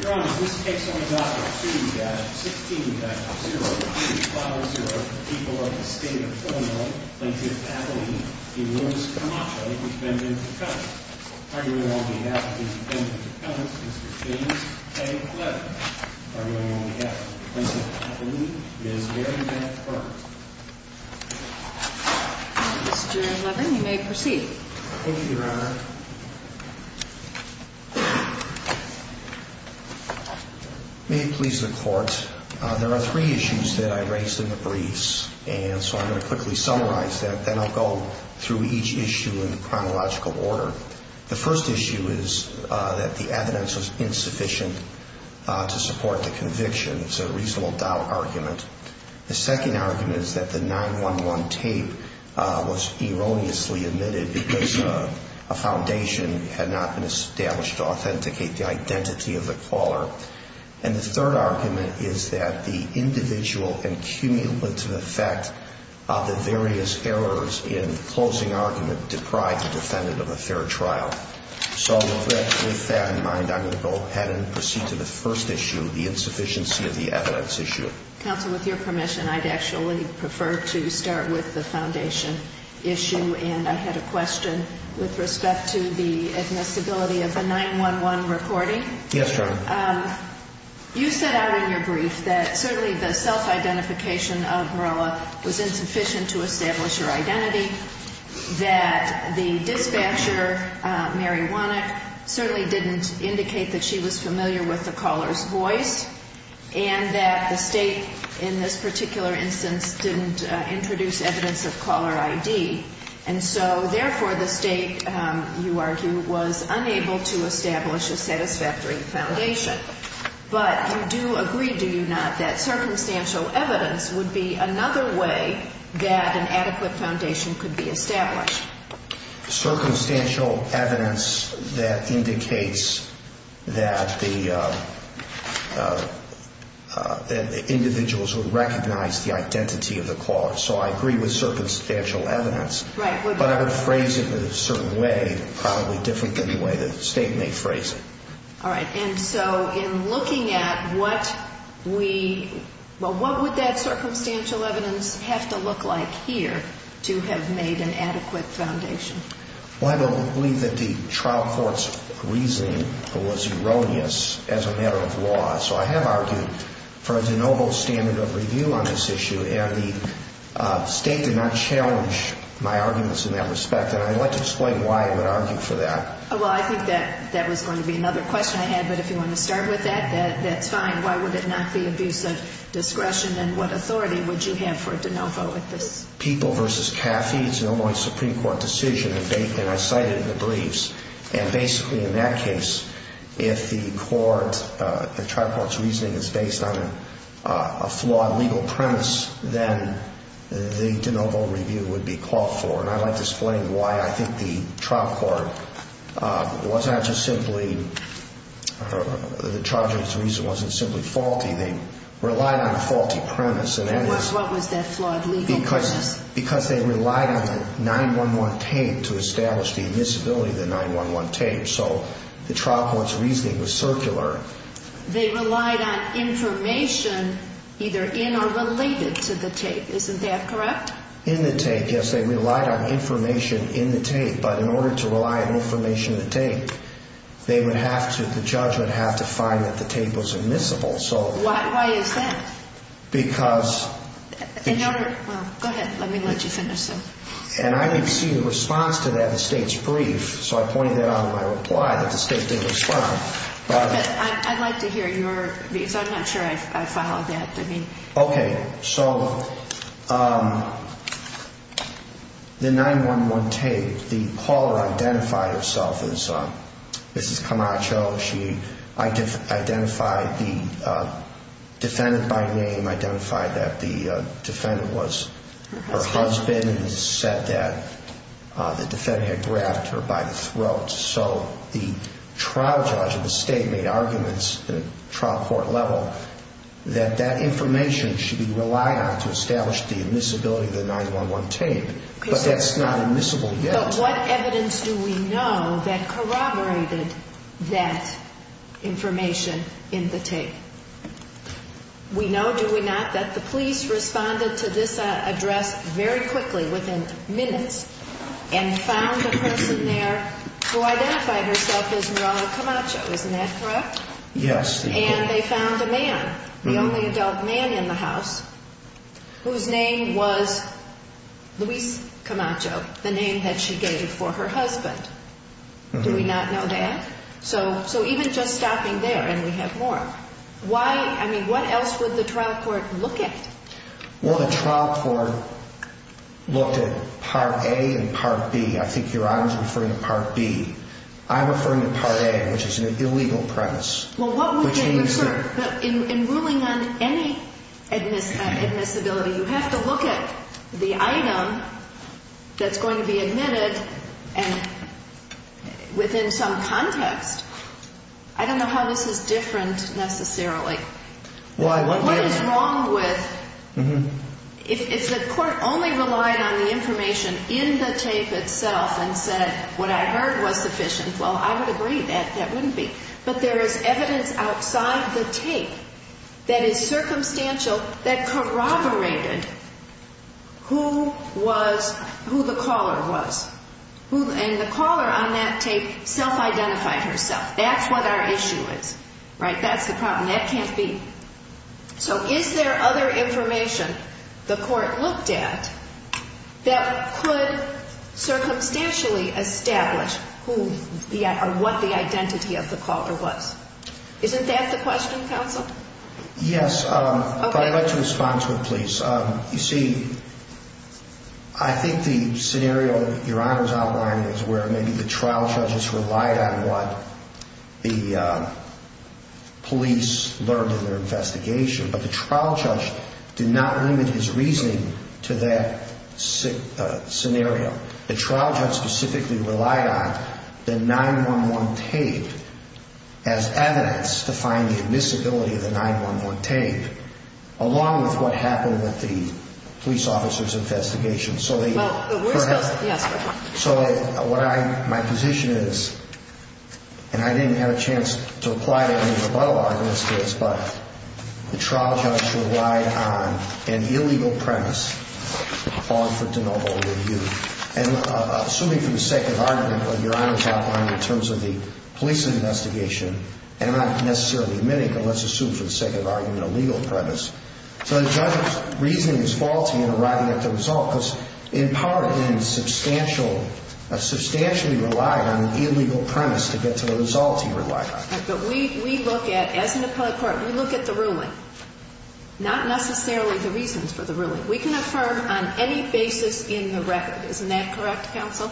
Your Honor, this case only offers two, 16-0, 3-5-0 people of the state of Illinois, Plaintiff Appellee, and Louis Camacho, defendants of Congress. Arguing on behalf of these defendants of Congress, Mr. James K. Levin. Arguing on behalf of Plaintiff Appellee, Ms. Mary Beth Burns. Mr. Levin, you may proceed. Thank you, Your Honor. May it please the Court. There are three issues that I raised in the briefs, and so I'm going to quickly summarize that. Then I'll go through each issue in chronological order. The first issue is that the evidence was insufficient to support the conviction. It's a reasonable doubt argument. The second argument is that the 9-1-1 tape was erroneously omitted because a foundation had not been established to authenticate the identity of the caller. And the third argument is that the individual and cumulative effect of the various errors in the closing argument deprive the defendant of a fair trial. So with that in mind, I'm going to go ahead and proceed to the first issue, the insufficiency of the evidence issue. Counsel, with your permission, I'd actually prefer to start with the foundation issue. And I had a question with respect to the admissibility of the 9-1-1 recording. Yes, Your Honor. You set out in your brief that certainly the self-identification of Veroa was insufficient to establish her identity, that the dispatcher, Mary Wanach, certainly didn't indicate that she was familiar with the caller's voice, and that the State, in this particular instance, didn't introduce evidence of caller ID. And so, therefore, the State, you argue, was unable to establish a satisfactory foundation. But you do agree, do you not, that circumstantial evidence would be another way that an adequate foundation could be established? Circumstantial evidence that indicates that the individuals would recognize the identity of the caller. So I agree with circumstantial evidence. Right. But I would phrase it in a certain way, probably different than the way the State may phrase it. All right. And so in looking at what we – well, what would that circumstantial evidence have to look like here to have made an adequate foundation? Well, I believe that the trial court's reasoning was erroneous as a matter of law. So I have argued for a de novo standard of review on this issue. And the State did not challenge my arguments in that respect. And I'd like to explain why I would argue for that. Well, I think that was going to be another question I had. But if you want to start with that, that's fine. Why would it not be abuse of discretion? And what authority would you have for a de novo with this? People v. Caffey, it's an Illinois Supreme Court decision, and I cite it in the briefs. And basically, in that case, if the court – the trial court's reasoning is based on a flawed legal premise, then the de novo review would be called for. And I'd like to explain why I think the trial court was not just simply – the charge of this reason wasn't simply faulty. They relied on a faulty premise. What was that flawed legal premise? Because they relied on the 911 tape to establish the invisibility of the 911 tape. So the trial court's reasoning was circular. They relied on information either in or related to the tape. Isn't that correct? In the tape, yes. They relied on information in the tape. But in order to rely on information in the tape, they would have to – the judge would have to find that the tape was admissible. Why is that? Because – In order – well, go ahead. Let me let you finish. And I didn't see a response to that in the state's brief, so I pointed that out in my reply that the state didn't respond. But I'd like to hear your – because I'm not sure I followed that. Okay. So the 911 tape, the caller identified herself as Mrs. Camacho. She identified the defendant by name, identified that the defendant was her husband, and said that the defendant had grabbed her by the throat. So the trial judge of the state made arguments at the trial court level that that information should be relied on to establish the invisibility of the 911 tape. But that's not admissible yet. But what evidence do we know that corroborated that information in the tape? We know, do we not, that the police responded to this address very quickly, within minutes, and found a person there who identified herself as Miral Camacho. Isn't that correct? Yes. And they found a man, the only adult man in the house, whose name was Luis Camacho, the name that she gave for her husband. Do we not know that? So even just stopping there, and we have more, why – I mean, what else would the trial court look at? Well, the trial court looked at Part A and Part B. I think Your Honor is referring to Part B. I'm referring to Part A, which is an illegal premise. Well, what would they refer – in ruling on any admissibility, you have to look at the item that's going to be admitted, and within some context. I don't know how this is different, necessarily. Why? What is wrong with – if the court only relied on the information in the tape itself and said, what I heard was sufficient, well, I would agree that that wouldn't be. But there is evidence outside the tape that is circumstantial that corroborated who was – who the caller was. And the caller on that tape self-identified herself. That's what our issue is. Right? That's the problem. That can't be. So is there other information the court looked at that could circumstantially establish who the – or what the identity of the caller was? Isn't that the question, counsel? Yes. Okay. But I'd like to respond to it, please. You see, I think the scenario that Your Honor's outlining is where maybe the trial judges relied on what the police learned in their investigation. But the trial judge did not limit his reasoning to that scenario. The trial judge specifically relied on the 911 tape as evidence to find the admissibility of the 911 tape, along with what happened with the police officer's investigation. So they – Well, we're still – yes, go ahead. So what I – my position is, and I didn't have a chance to reply to any rebuttal arguments to this, but the trial judge relied on an illegal premise called for de novo review. And assuming for the sake of argument what Your Honor's outlined in terms of the police investigation, and not necessarily many, but let's assume for the sake of argument a legal premise. So the judge's reasoning is faulty in arriving at the result because in part he substantially relied on an illegal premise to get to the results he relied on. But we look at, as an appellate court, we look at the ruling, not necessarily the reasons for the ruling. We can affirm on any basis in the record. Isn't that correct, counsel?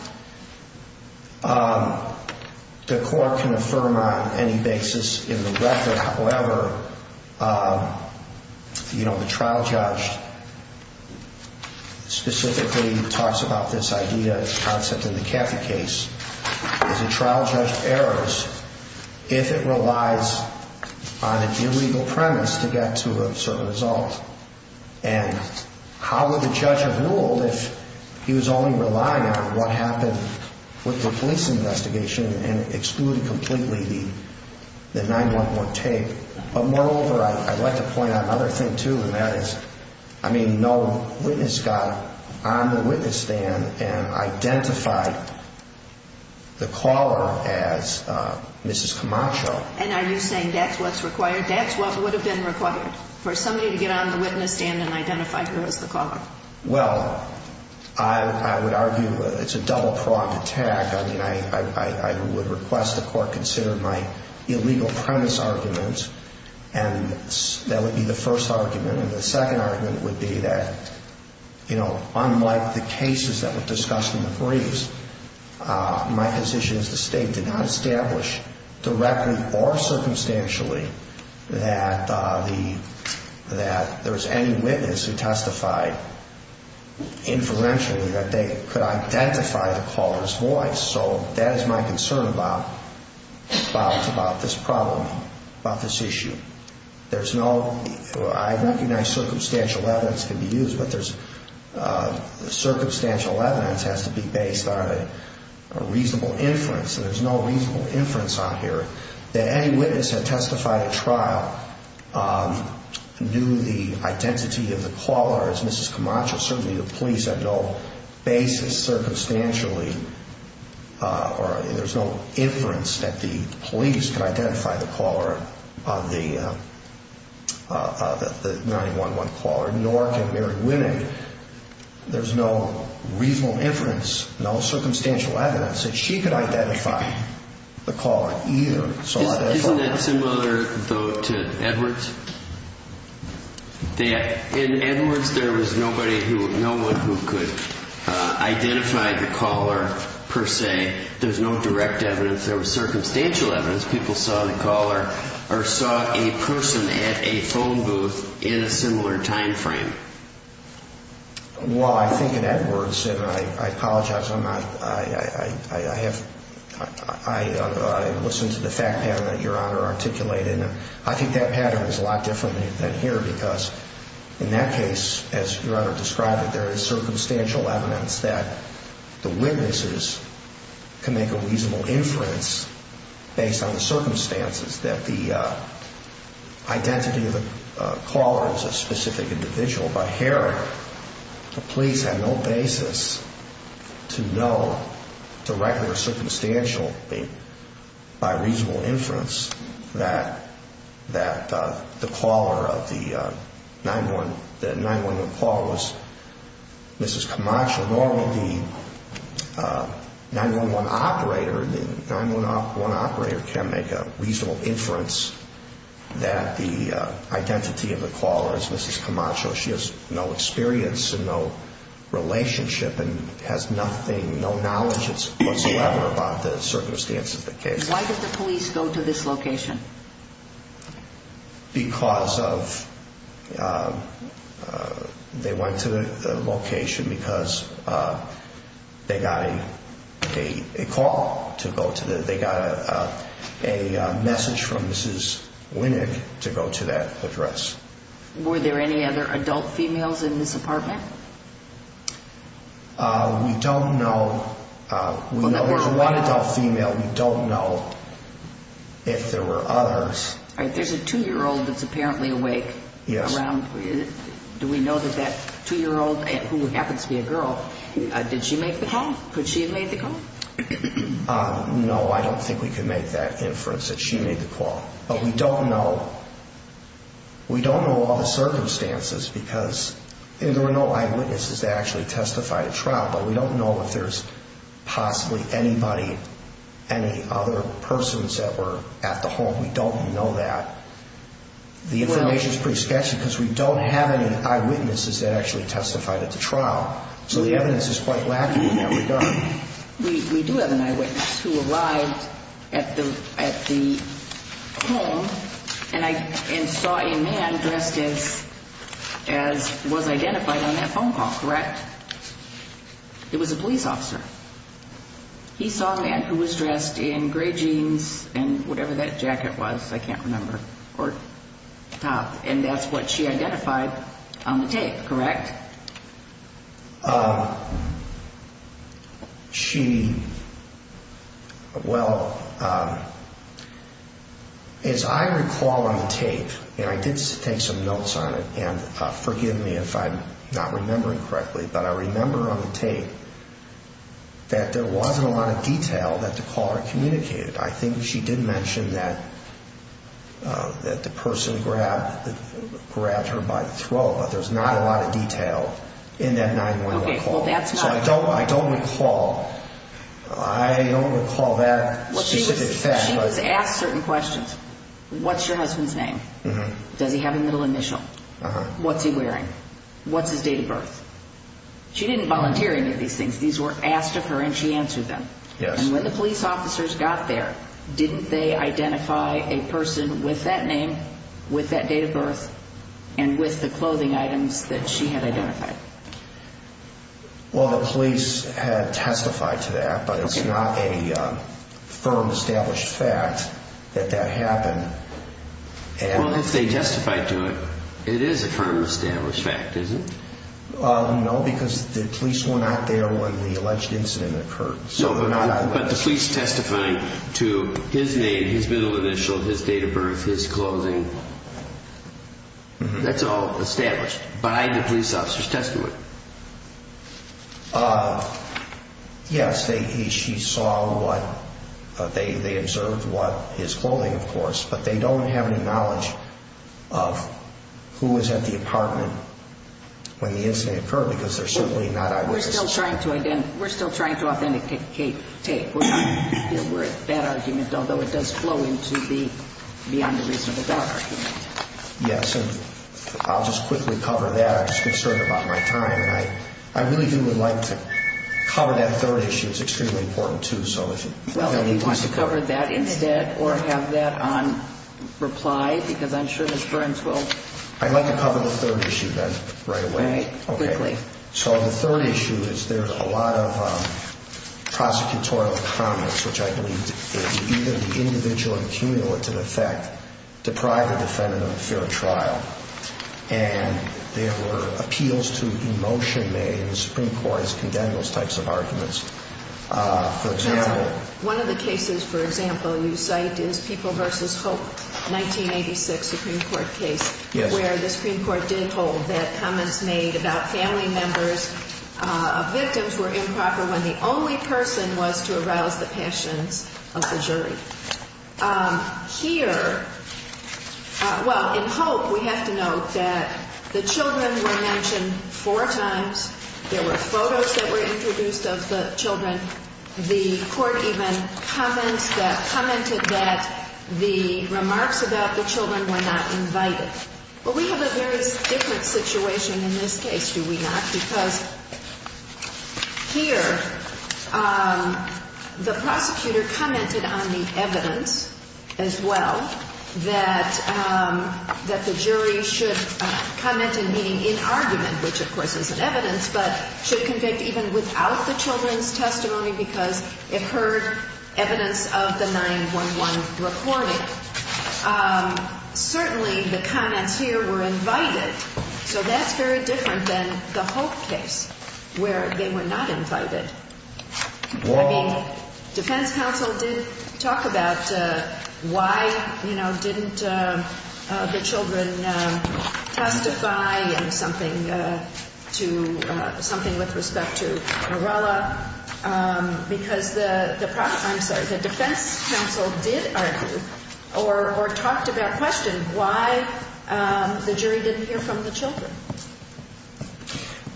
The court can affirm on any basis in the record. However, you know, the trial judge specifically talks about this idea, concept, in the Caffey case. Is a trial judge errors if it relies on an illegal premise to get to a certain result? And how would the judge have ruled if he was only relying on what happened with the police investigation and excluded completely the 911 tape? But moreover, I'd like to point out another thing, too, and that is, I mean, no witness got on the witness stand and identified the caller as Mrs. Camacho. And are you saying that's what's required? That's what would have been required for somebody to get on the witness stand and identify her as the caller? Well, I would argue it's a double-pronged attack. I mean, I would request the court consider my illegal premise arguments, and that would be the first argument. And the second argument would be that, you know, unlike the cases that were discussed in the briefs, my position is the state did not establish directly or circumstantially that there was any witness who testified inferentially that they could identify the caller's voice. So that is my concern about this problem, about this issue. There's no – I recognize circumstantial evidence can be used, but there's – circumstantial evidence has to be based on a reasonable inference. And there's no reasonable inference on here that any witness that testified at trial knew the identity of the caller as Mrs. Camacho. Certainly the police have no basis circumstantially, or there's no inference that the police could identify the caller on the 9-1-1 caller. Nor can Mary Winnick. There's no reasonable inference, no circumstantial evidence that she could identify the caller either. Isn't that similar, though, to Edwards? That in Edwards, there was nobody who – no one who could identify the caller, per se. There's no direct evidence. There was circumstantial evidence people saw the caller or saw a person at a phone booth in a similar timeframe. Well, I think in Edwards – and I apologize, I'm not – I have – I listened to the fact pattern that Your Honor articulated, and I think that pattern is a lot different than here because in that case, as Your Honor described it, there is circumstantial evidence that the witnesses can make a reasonable inference based on the circumstances that the identity of the caller is a specific individual. But here, the police have no basis to know directly or circumstantially, by reasonable inference, that the caller of the 9-1-1 caller was Mrs. Camacho. So normally, the 9-1-1 operator – the 9-1-1 operator can make a reasonable inference that the identity of the caller is Mrs. Camacho. She has no experience and no relationship and has nothing – no knowledge whatsoever about the circumstances of the case. Why did the police go to this location? Because of – they went to the location because they got a call to go to the – they got a message from Mrs. Winick to go to that address. Were there any other adult females in this apartment? We don't know. There was one adult female. We don't know if there were others. All right. There's a 2-year-old that's apparently awake. Yes. Around – do we know that that 2-year-old, who happens to be a girl, did she make the call? Could she have made the call? No, I don't think we could make that inference that she made the call. But we don't know – we don't know all the circumstances because there were no eyewitnesses that actually testified at trial. But we don't know if there's possibly anybody – any other persons that were at the home. We don't know that. The information is pretty sketchy because we don't have any eyewitnesses that actually testified at the trial. So the evidence is quite lacking in that regard. We do have an eyewitness who arrived at the home and saw a man dressed as was identified on that phone call, correct? It was a police officer. He saw a man who was dressed in gray jeans and whatever that jacket was, I can't remember, or top. And that's what she identified on the tape, correct? She – well, as I recall on the tape, and I did take some notes on it, and forgive me if I'm not remembering correctly, but I remember on the tape that there wasn't a lot of detail that the caller communicated. I think she did mention that the person grabbed her by the throat, but there's not a lot of detail in that 911 call. So I don't recall. I don't recall that specific fact. She was asked certain questions. What's your husband's name? Does he have a middle initial? What's he wearing? What's his date of birth? She didn't volunteer any of these things. These were asked of her, and she answered them. And when the police officers got there, didn't they identify a person with that name, with that date of birth, and with the clothing items that she had identified? Well, the police had testified to that, but it's not a firm, established fact that that happened. Well, if they testified to it, it is a firm, established fact, is it? No, because the police were not there when the alleged incident occurred. But the police testifying to his name, his middle initial, his date of birth, his clothing, that's all established by the police officers testifying to it. Yes, she saw what they observed, his clothing, of course, but they don't have any knowledge of who was at the apartment when the incident occurred, because they're certainly not eyewitnesses. We're still trying to authenticate. We're at that argument, although it does flow into the beyond the reasonable doubt argument. Yes, and I'll just quickly cover that. I'm just concerned about my time, and I really do would like to cover that third issue. It's extremely important, too. Well, if you want to cover that instead or have that on reply, because I'm sure Ms. Burns will... I'd like to cover the third issue then right away. Right, quickly. So the third issue is there's a lot of prosecutorial comments, which I believe is either the individual accumulative effect, deprive a defendant of a fair trial, and there were appeals to emotion made, and the Supreme Court has condemned those types of arguments. For example... One of the cases, for example, you cite is People v. Hope, 1986 Supreme Court case, where the Supreme Court did hold that comments made about family members of victims were improper when the only person was to arouse the passions of the jury. Here, well, in Hope, we have to note that the children were mentioned four times. There were photos that were introduced of the children. The court even commented that the remarks about the children were not invited. Well, we have a very different situation in this case, do we not? Because here, the prosecutor commented on the evidence as well, that the jury should comment in meaning in argument, which of course isn't evidence, but should convict even without the children's testimony because it heard evidence of the 9-1-1 recording. Certainly, the comments here were invited, so that's very different than the Hope case, where they were not invited. I mean, defense counsel did talk about why, you know, didn't the children testify in something with respect to Morella, because the defense counsel did argue or talked about question why the jury didn't hear from the children.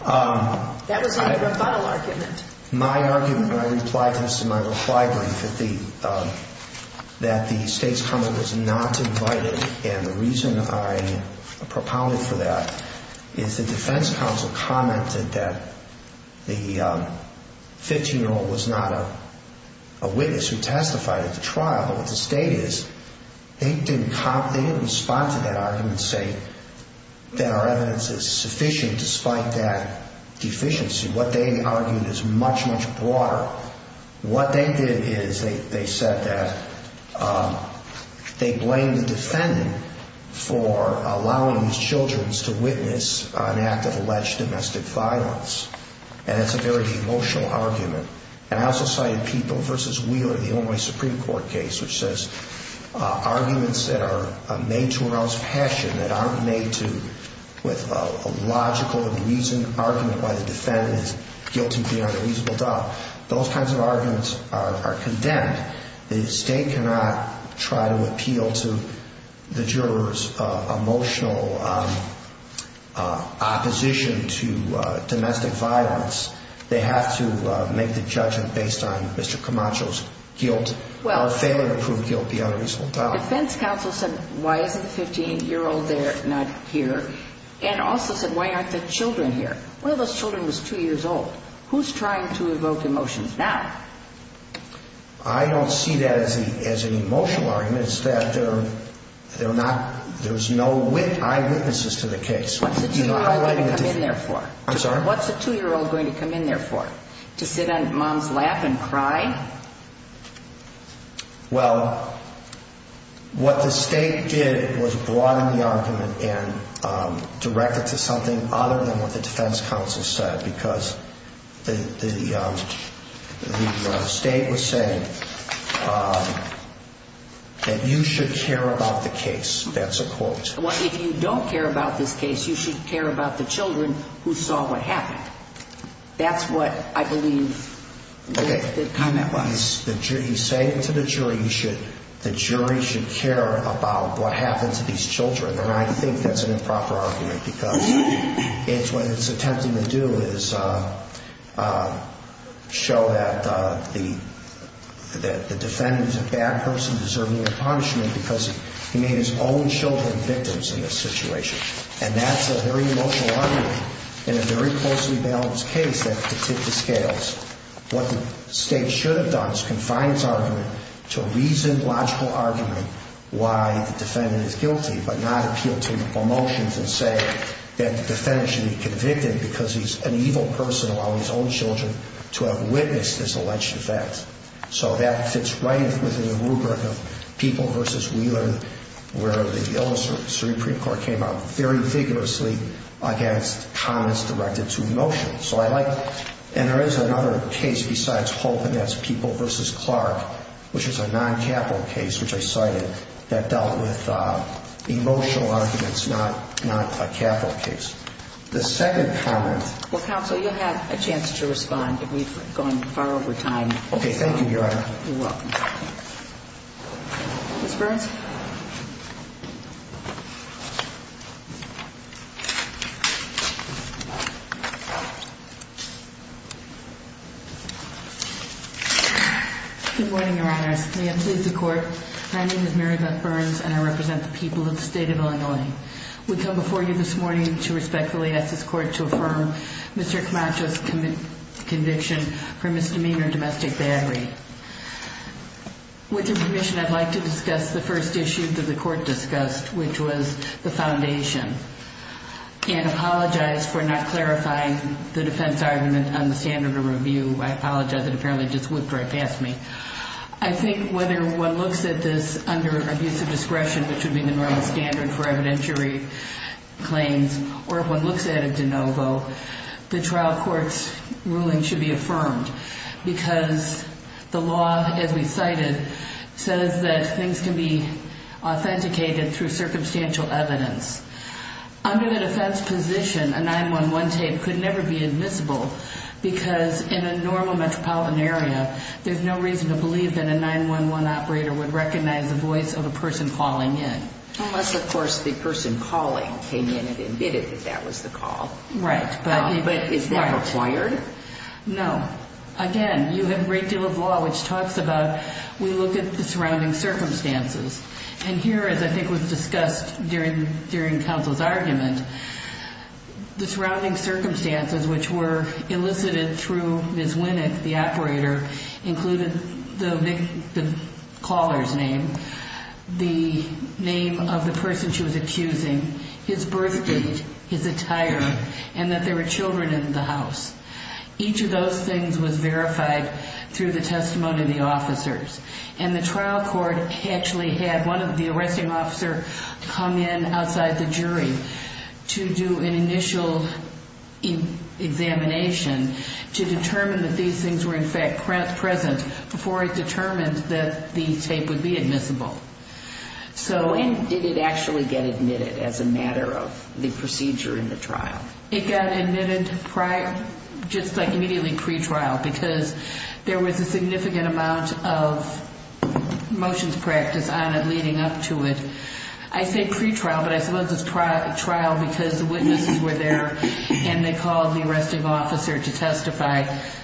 That was not a rebuttal argument. My argument, and I implied this in my reply brief, that the state's comment was not invited, and the reason I propounded for that is the defense counsel commented that the 15-year-old was not a witness who testified at the trial, but what the state is, they didn't respond to that argument saying that our evidence is sufficient despite that deficiency. What they argued is much, much broader. What they did is they said that they blamed the defendant for allowing these children to witness an act of alleged domestic violence, and that's a very emotional argument. And I also cited People v. Wheeler, the Illinois Supreme Court case, which says arguments that are made to arouse passion that aren't made with a logical and reasoned argument why the defendant is guilty beyond a reasonable doubt. Those kinds of arguments are condemned. The state cannot try to appeal to the jurors' emotional opposition to domestic violence. They have to make the judgment based on Mr. Camacho's guilt or failure to prove guilt beyond a reasonable doubt. The defense counsel said, why isn't the 15-year-old there, not here, and also said, why aren't the children here? One of those children was 2 years old. Who's trying to evoke emotions now? I don't see that as an emotional argument. It's that there's no eyewitnesses to the case. What's the 2-year-old going to come in there for? I'm sorry? What's the 2-year-old going to come in there for? To sit on mom's lap and cry? Well, what the state did was broaden the argument and direct it to something other than what the defense counsel said because the state was saying that you should care about the case. That's a quote. If you don't care about this case, you should care about the children who saw what happened. That's what I believe the comment was. You say to the jury, the jury should care about what happened to these children, and I think that's an improper argument because what it's attempting to do is show that the defendant is a bad person deserving of punishment because he made his own children victims in this situation. And that's a very emotional argument in a very closely balanced case that can tip the scales. What the state should have done is confined its argument to a reasoned, logical argument why the defendant is guilty but not appeal to emotions and say that the defendant should be convicted because he's an evil person allowing his own children to have witnessed this alleged event. So that fits right within the rubric of People v. Whelan where the illustrative Supreme Court came out very vigorously against comments directed to emotions. So I like it. And there is another case besides Hope, and that's People v. Clark, which is a non-capital case, which I cited, that dealt with emotional arguments, not a capital case. The second comment. Well, counsel, you'll have a chance to respond. We've gone far over time. Okay, thank you, Your Honor. You're welcome. Ms. Burns? Good morning, Your Honor. May it please the Court. My name is Mary Beth Burns, and I represent the people of the state of Illinois. We come before you this morning to respectfully ask this Court to affirm Mr. Camacho's conviction for misdemeanor domestic battery. With your permission, I'd like to discuss the first issue that the Court discussed, which was the foundation, and apologize for not clarifying the defense argument on the standard of review. I apologize. It apparently just whipped right past me. I think whether one looks at this under abusive discretion, which would be the normal standard for evidentiary claims, or if one looks at it de novo, the trial court's ruling should be affirmed because the law, as we cited, says that things can be authenticated through circumstantial evidence. Under the defense position, a 911 tape could never be admissible because in a normal metropolitan area, there's no reason to believe that a 911 operator would recognize the voice of a person calling in. Unless, of course, the person calling came in and admitted that that was the call. Right. But is that required? No. Again, you have a great deal of law which talks about we look at the surrounding circumstances. And here, as I think was discussed during counsel's argument, the surrounding circumstances which were elicited through Ms. Winick, the operator, included the caller's name, the name of the person she was accusing, his birth date, his attire, and that there were children in the house. Each of those things was verified through the testimony of the officers. And the trial court actually had one of the arresting officers come in outside the jury to do an initial examination to determine that these things were in fact present before it determined that the tape would be admissible. And did it actually get admitted as a matter of the procedure in the trial? It got admitted just like immediately pre-trial because there was a significant amount of motions practice on it leading up to it. I say pre-trial, but I suppose it's trial because the witnesses were there and they called the arresting officer to testify.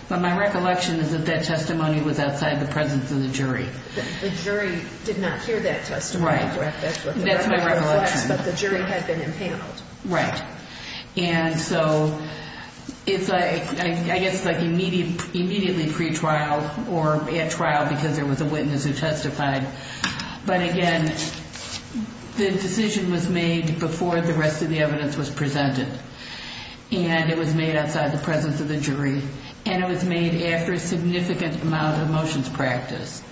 But my recollection is that that testimony was outside the presence of the jury. The jury did not hear that testimony. Right. That's my recollection. But the jury had been impaneled. Right. And so it's, I guess, like immediately pre-trial or at trial because there was a witness who testified. But again, the decision was made before the rest of the evidence was presented. And it was made outside the presence of the jury. And it was made after a significant amount of motions practice.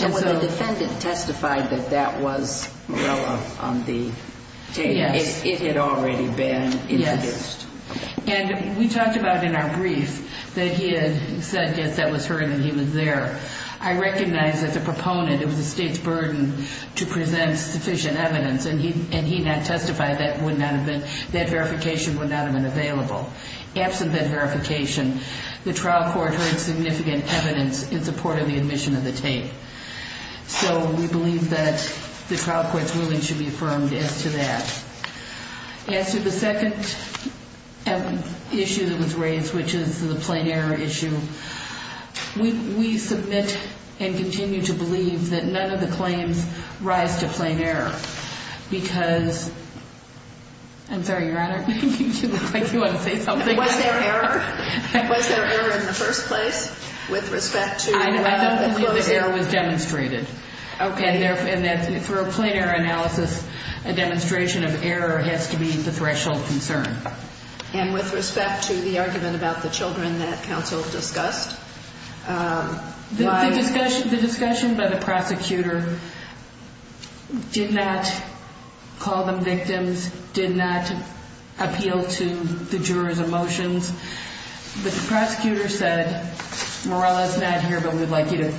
And when the defendant testified that that was Morella on the tape, it had already been introduced. Yes. And we talked about in our brief that he had said, yes, that was her and that he was there. I recognize as a proponent it was the State's burden to present sufficient evidence, and he not testified that that verification would not have been available. Absent that verification, the trial court heard significant evidence in support of the admission of the tape. So we believe that the trial court's ruling should be affirmed as to that. As to the second issue that was raised, which is the plain error issue, we submit and continue to believe that none of the claims rise to plain error. Because – I'm sorry, Your Honor, you look like you want to say something. Was there error? Was there error in the first place with respect to – I don't believe this error was demonstrated. Okay. And that for a plain error analysis, a demonstration of error has to be the threshold concern. And with respect to the argument about the children that counsel discussed, why – The discussion by the prosecutor did not call them victims, did not appeal to the juror's emotions. But the prosecutor said, Morella is not here, but we'd like you to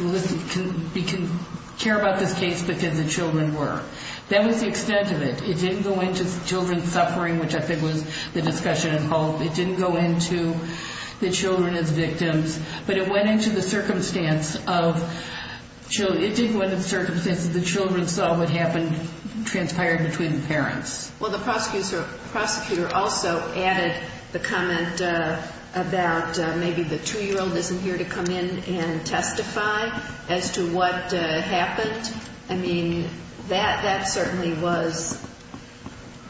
listen – we care about this case because the children were. That was the extent of it. It didn't go into children's suffering, which I think was the discussion involved. It didn't go into the children as victims. But it went into the circumstance of – it did go into the circumstance that the children saw what happened transpired between the parents. Well, the prosecutor also added the comment about maybe the 2-year-old isn't here to come in and testify as to what happened. I mean, that certainly was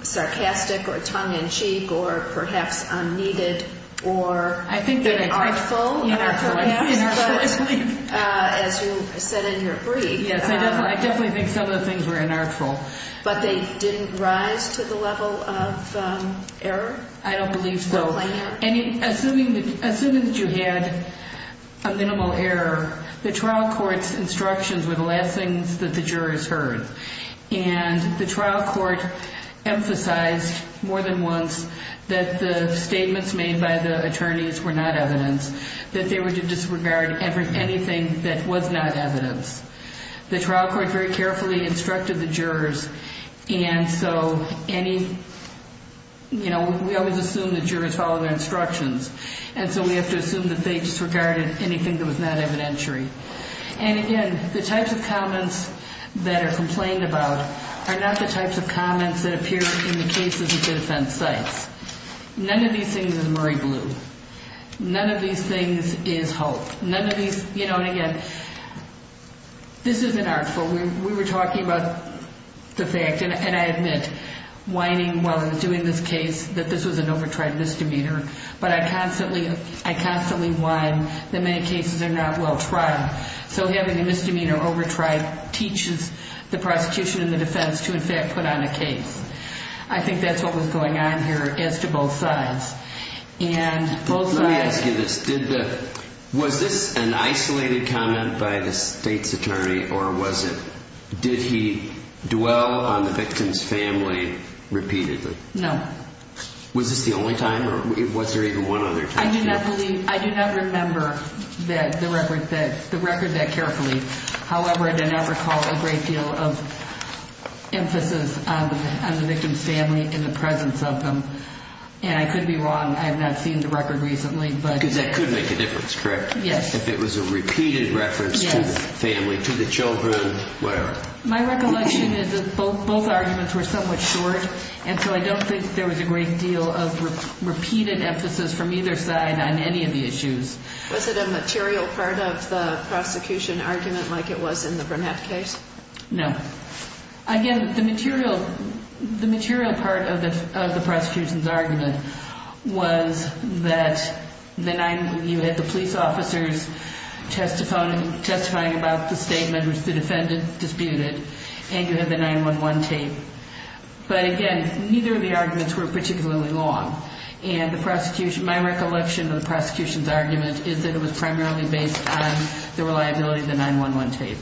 sarcastic or tongue-in-cheek or perhaps unneeded or unartful. Unartful. Unartful, I believe. But as you said in your brief – Yes, I definitely think some of the things were unartful. But they didn't rise to the level of error? I don't believe so. For a plain error? And assuming that you had a minimal error, the trial court's instructions were the last things that the jurors heard. And the trial court emphasized more than once that the statements made by the attorneys were not evidence, that they were to disregard anything that was not evidence. The trial court very carefully instructed the jurors, and so any – you know, we always assume the jurors follow their instructions. And so we have to assume that they disregarded anything that was not evidentiary. And again, the types of comments that are complained about are not the types of comments that appear in the cases at defense sites. None of these things is Murray Blue. None of these things is Hulk. None of these – you know, and again, this is unartful. We were talking about the fact, and I admit, whining while I was doing this case that this was an over-tried misdemeanor. But I constantly – I constantly whine that many cases are not well-tried. So having a misdemeanor over-tried teaches the prosecution and the defense to, in fact, put on a case. I think that's what was going on here as to both sides. And both sides – Let me ask you this. Did the – was this an isolated comment by the state's attorney, or was it – did he dwell on the victim's family repeatedly? No. Was this the only time, or was there even one other time? I do not believe – I do not remember that – the record that carefully. However, I did not recall a great deal of emphasis on the victim's family in the presence of them. And I could be wrong. I have not seen the record recently, but – Because that could make a difference, correct? Yes. If it was a repeated reference to the family, to the children, whatever. My recollection is that both arguments were somewhat short, and so I don't think there was a great deal of repeated emphasis from either side on any of the issues. Was it a material part of the prosecution argument like it was in the Burnett case? No. Again, the material – the material part of the prosecution's argument was that the nine – and you have the 9-1-1 tape. But, again, neither of the arguments were particularly long. And the prosecution – my recollection of the prosecution's argument is that it was primarily based on the reliability of the 9-1-1 tape.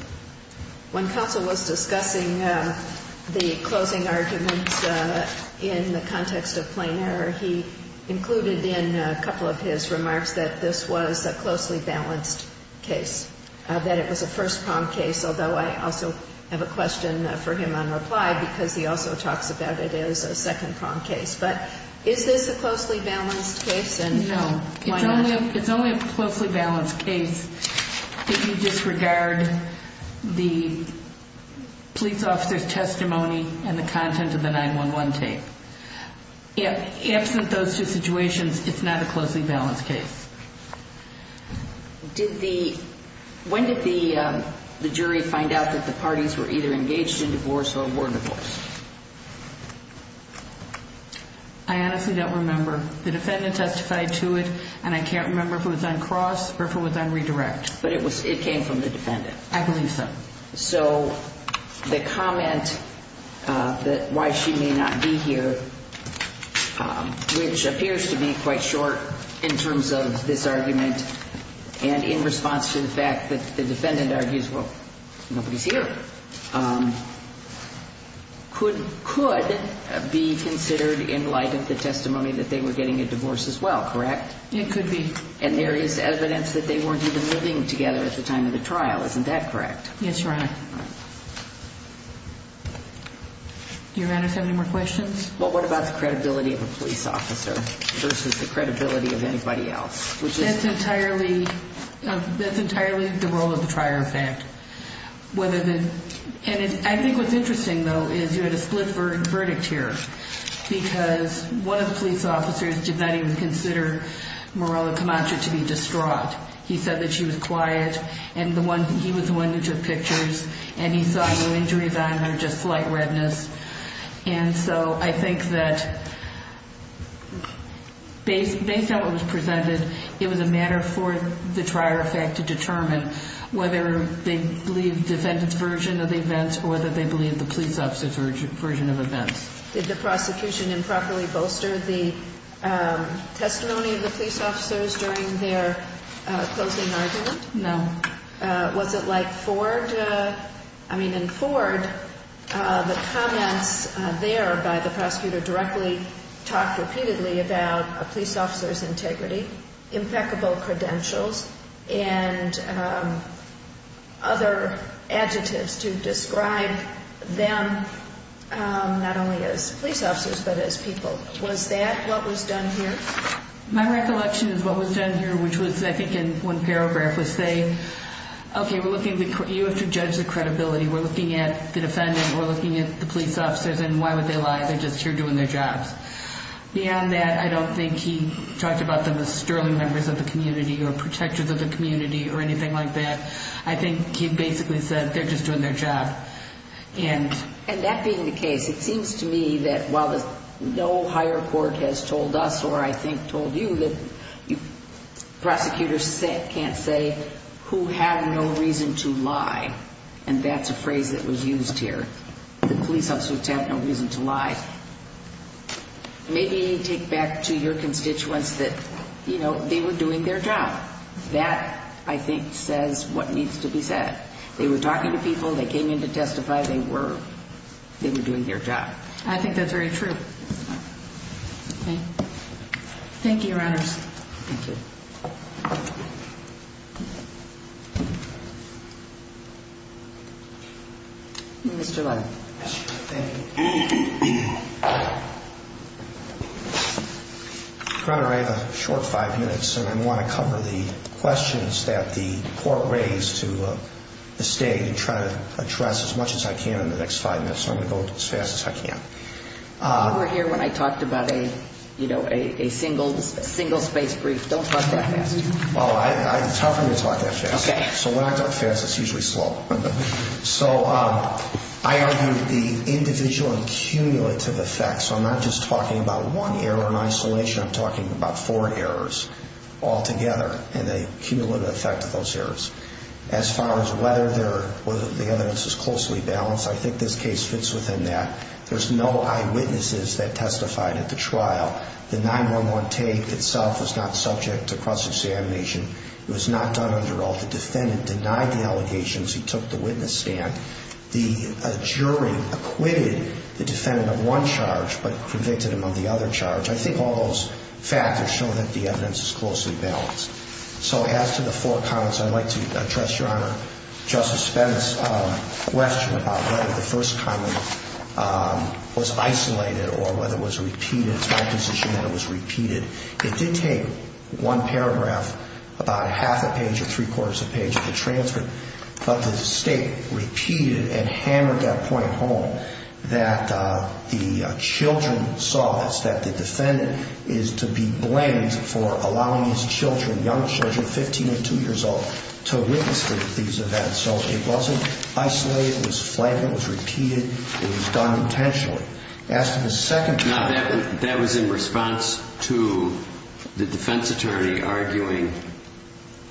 When counsel was discussing the closing arguments in the context of plain error, he included in a couple of his remarks that this was a closely balanced case, that it was a first-prong case, although I also have a question for him on reply because he also talks about it as a second-prong case. But is this a closely balanced case? No. Why not? It's only a closely balanced case if you disregard the police officer's testimony and the content of the 9-1-1 tape. Absent those two situations, it's not a closely balanced case. Did the – when did the jury find out that the parties were either engaged in divorce or were divorced? I honestly don't remember. The defendant testified to it, and I can't remember if it was on cross or if it was on redirect. But it was – it came from the defendant. I believe so. So the comment that why she may not be here, which appears to be quite short in terms of this argument, and in response to the fact that the defendant argues, well, nobody's here, could be considered in light of the testimony that they were getting a divorce as well, correct? It could be. And there is evidence that they weren't even living together at the time of the trial. Isn't that correct? Yes, Your Honor. Your Honor, do you have any more questions? Well, what about the credibility of a police officer versus the credibility of anybody else? That's entirely – that's entirely the role of the trier of fact. Whether the – and I think what's interesting, though, is you had a split verdict here because one of the police officers did not even consider Mirella Camacho to be distraught. He said that she was quiet and the one – he was the one who took pictures and he saw no injuries on her, just slight redness. And so I think that based on what was presented, it was a matter for the trier of fact to determine whether they believed the defendant's version of the events or whether they believed the police officer's version of events. Did the prosecution improperly bolster the testimony of the police officers during their closing argument? No. Was it like Ford – I mean, in Ford, the comments there by the prosecutor directly talked repeatedly about a police officer's integrity, impeccable credentials, and other adjectives to describe them not only as police officers but as people. Was that what was done here? My recollection is what was done here, which was I think in one paragraph, was say, okay, we're looking – you have to judge the credibility. We're looking at the defendant. We're looking at the police officers and why would they lie? They're just here doing their jobs. Beyond that, I don't think he talked about them as sterling members of the community or protectors of the community or anything like that. I think he basically said they're just doing their job. And that being the case, it seems to me that while no higher court has told us or I think told you that prosecutors can't say who had no reason to lie, and that's a phrase that was used here, that police officers have no reason to lie, maybe take back to your constituents that, you know, they were doing their job. That, I think, says what needs to be said. They were talking to people. They came in to testify. They were doing their job. I think that's very true. Thank you, Your Honors. Thank you. Mr. Levin. Thank you. Your Honor, I have a short five minutes, and I want to cover the questions that the court raised to the State and try to address as much as I can in the next five minutes. So I'm going to go as fast as I can. You were here when I talked about a single-space brief. Don't talk that fast. Well, it's hard for me to talk that fast. Okay. So when I talk fast, it's usually slow. So I argued the individual and cumulative effects. I'm not just talking about one error in isolation. I'm talking about four errors altogether and the cumulative effect of those errors. As far as whether the evidence is closely balanced, I think this case fits within that. There's no eyewitnesses that testified at the trial. The 9-1-1 tape itself was not subject to cross-examination. It was not done under oath. The defendant denied the allegations. He took the witness stand. The jury acquitted the defendant of one charge but convicted him of the other charge. I think all those factors show that the evidence is closely balanced. So as to the four comments, I'd like to address, Your Honor, Justice Spence's question about whether the first comment was isolated or whether it was repeated. It's my position that it was repeated. It did take one paragraph, about half a page or three-quarters of a page of the transcript, but the State repeated and hammered that point home that the children saw this, that the defendant is to be blamed for allowing his children, young children, 15 and 2 years old, to witness these events. So it wasn't isolated. It was flagged. It was repeated. It was done intentionally. Now, that was in response to the defense attorney arguing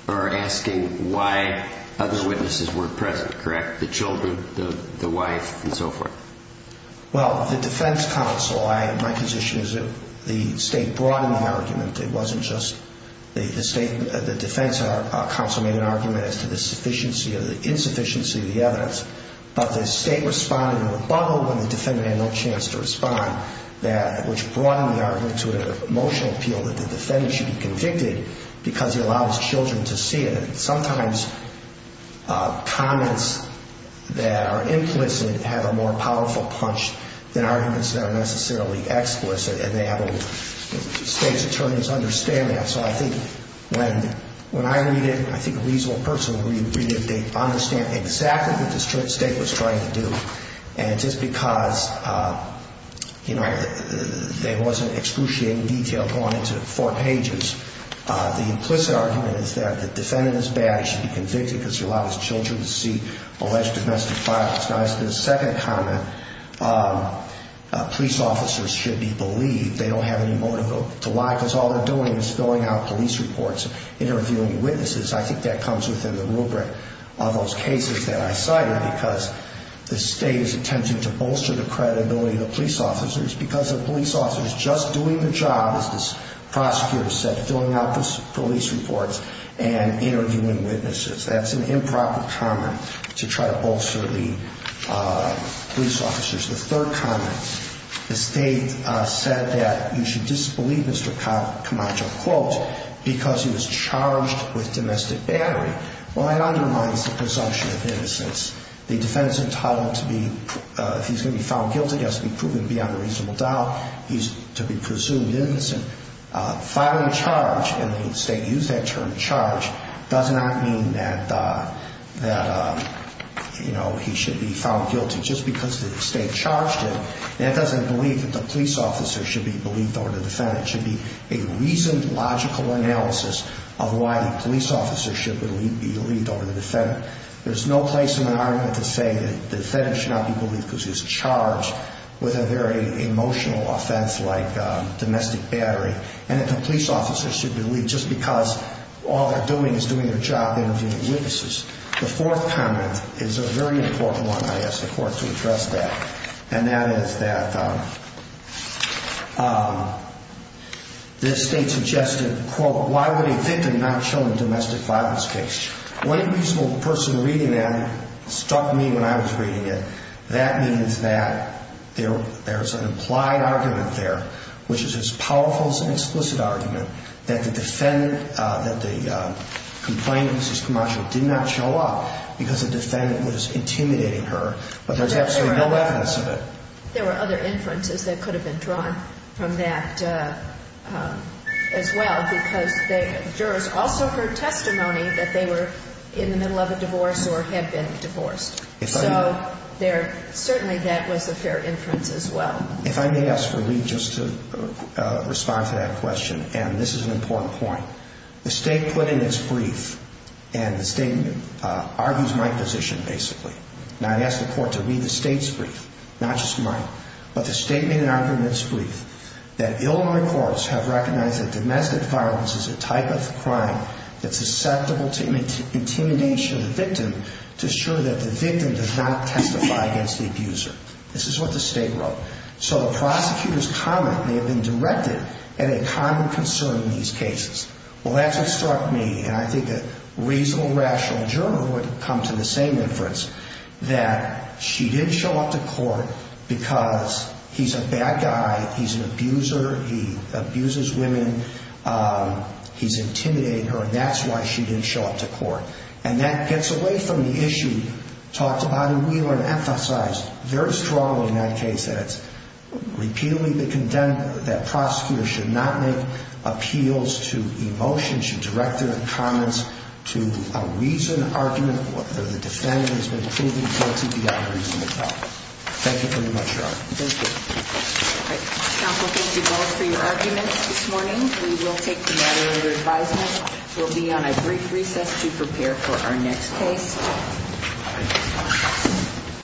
or asking why other witnesses weren't present, correct? The children, the wife, and so forth. Well, the defense counsel, my position is that the State brought in the argument. It wasn't just the defense counsel made an argument as to the sufficiency or the insufficiency of the evidence, but the State responded in a rebuttal when the defendant had no chance to respond, which brought in the argument to an emotional appeal that the defendant should be convicted because he allowed his children to see it. And sometimes comments that are implicit have a more powerful punch than arguments that are necessarily explicit, and the State's attorneys understand that. So I think when I read it, I think a reasonable person would read it if they understand exactly what the State was trying to do. And just because, you know, there wasn't excruciating detail going into four pages, the implicit argument is that the defendant is bad. He should be convicted because he allowed his children to see alleged domestic violence. Now, as to the second comment, police officers should be believed. They don't have any motive to lie because all they're doing is filling out police reports, interviewing witnesses. I think that comes within the rubric of those cases that I cited because the State is attempting to bolster the credibility of the police officers because the police officer is just doing the job, as the prosecutor said, filling out the police reports and interviewing witnesses. That's an improper comment to try to bolster the police officers. The third comment, the State said that you should disbelieve Mr. Camacho, quote, because he was charged with domestic battery. Well, that undermines the presumption of innocence. The defendant's entitled to be, if he's going to be found guilty, he has to be proven beyond a reasonable doubt. He's to be presumed innocent. Filing a charge, and the State used that term, charge, does not mean that, you know, he should be found guilty just because the State charged him. And it doesn't believe that the police officer should be believed over the defendant. It should be a reasoned, logical analysis of why the police officer should be believed over the defendant. There's no place in the argument to say that the defendant should not be believed because he was charged with a very emotional offense like domestic battery and that the police officer should be believed just because all they're doing is doing their job interviewing witnesses. The fourth comment is a very important one, I ask the Court to address that, and that is that the State suggested, quote, why would a victim not show in a domestic violence case? One reasonable person reading that struck me when I was reading it. That means that there's an implied argument there, which is as powerful as an explicit argument, that the defendant, that the complaint of Mrs. Camacho did not show up because the defendant was intimidating her, but there's absolutely no evidence of it. There were other inferences that could have been drawn from that as well because the jurors also heard testimony that they were in the middle of a divorce or had been divorced. So certainly that was a fair inference as well. If I may ask for Lee just to respond to that question, and this is an important point. The State put in its brief, and the State argues my position basically, and I'd ask the Court to read the State's brief, not just mine, but the State made an argument in its brief that Illinois courts have recognized that domestic violence is a type of crime that's susceptible to intimidation of the victim to ensure that the victim does not testify against the abuser. This is what the State wrote. So the prosecutor's comment may have been directed at a common concern in these cases. Well, that's what struck me, and I think a reasonable, rational juror would come to the same inference, that she didn't show up to court because he's a bad guy, he's an abuser, he abuses women, he's intimidating her, and that's why she didn't show up to court. And that gets away from the issue talked about in Wheeler and emphasized very strongly in that case that it's repeatedly been condemned that prosecutors should not make appeals to emotion, should direct their comments to a reason, argument, whether the defendant has been proven guilty beyond a reasonable doubt. Thank you very much, Your Honor. Thank you. All right. Counsel, thank you both for your arguments this morning. We will take the matter under advisement. We'll be on a brief recess to prepare for our next case.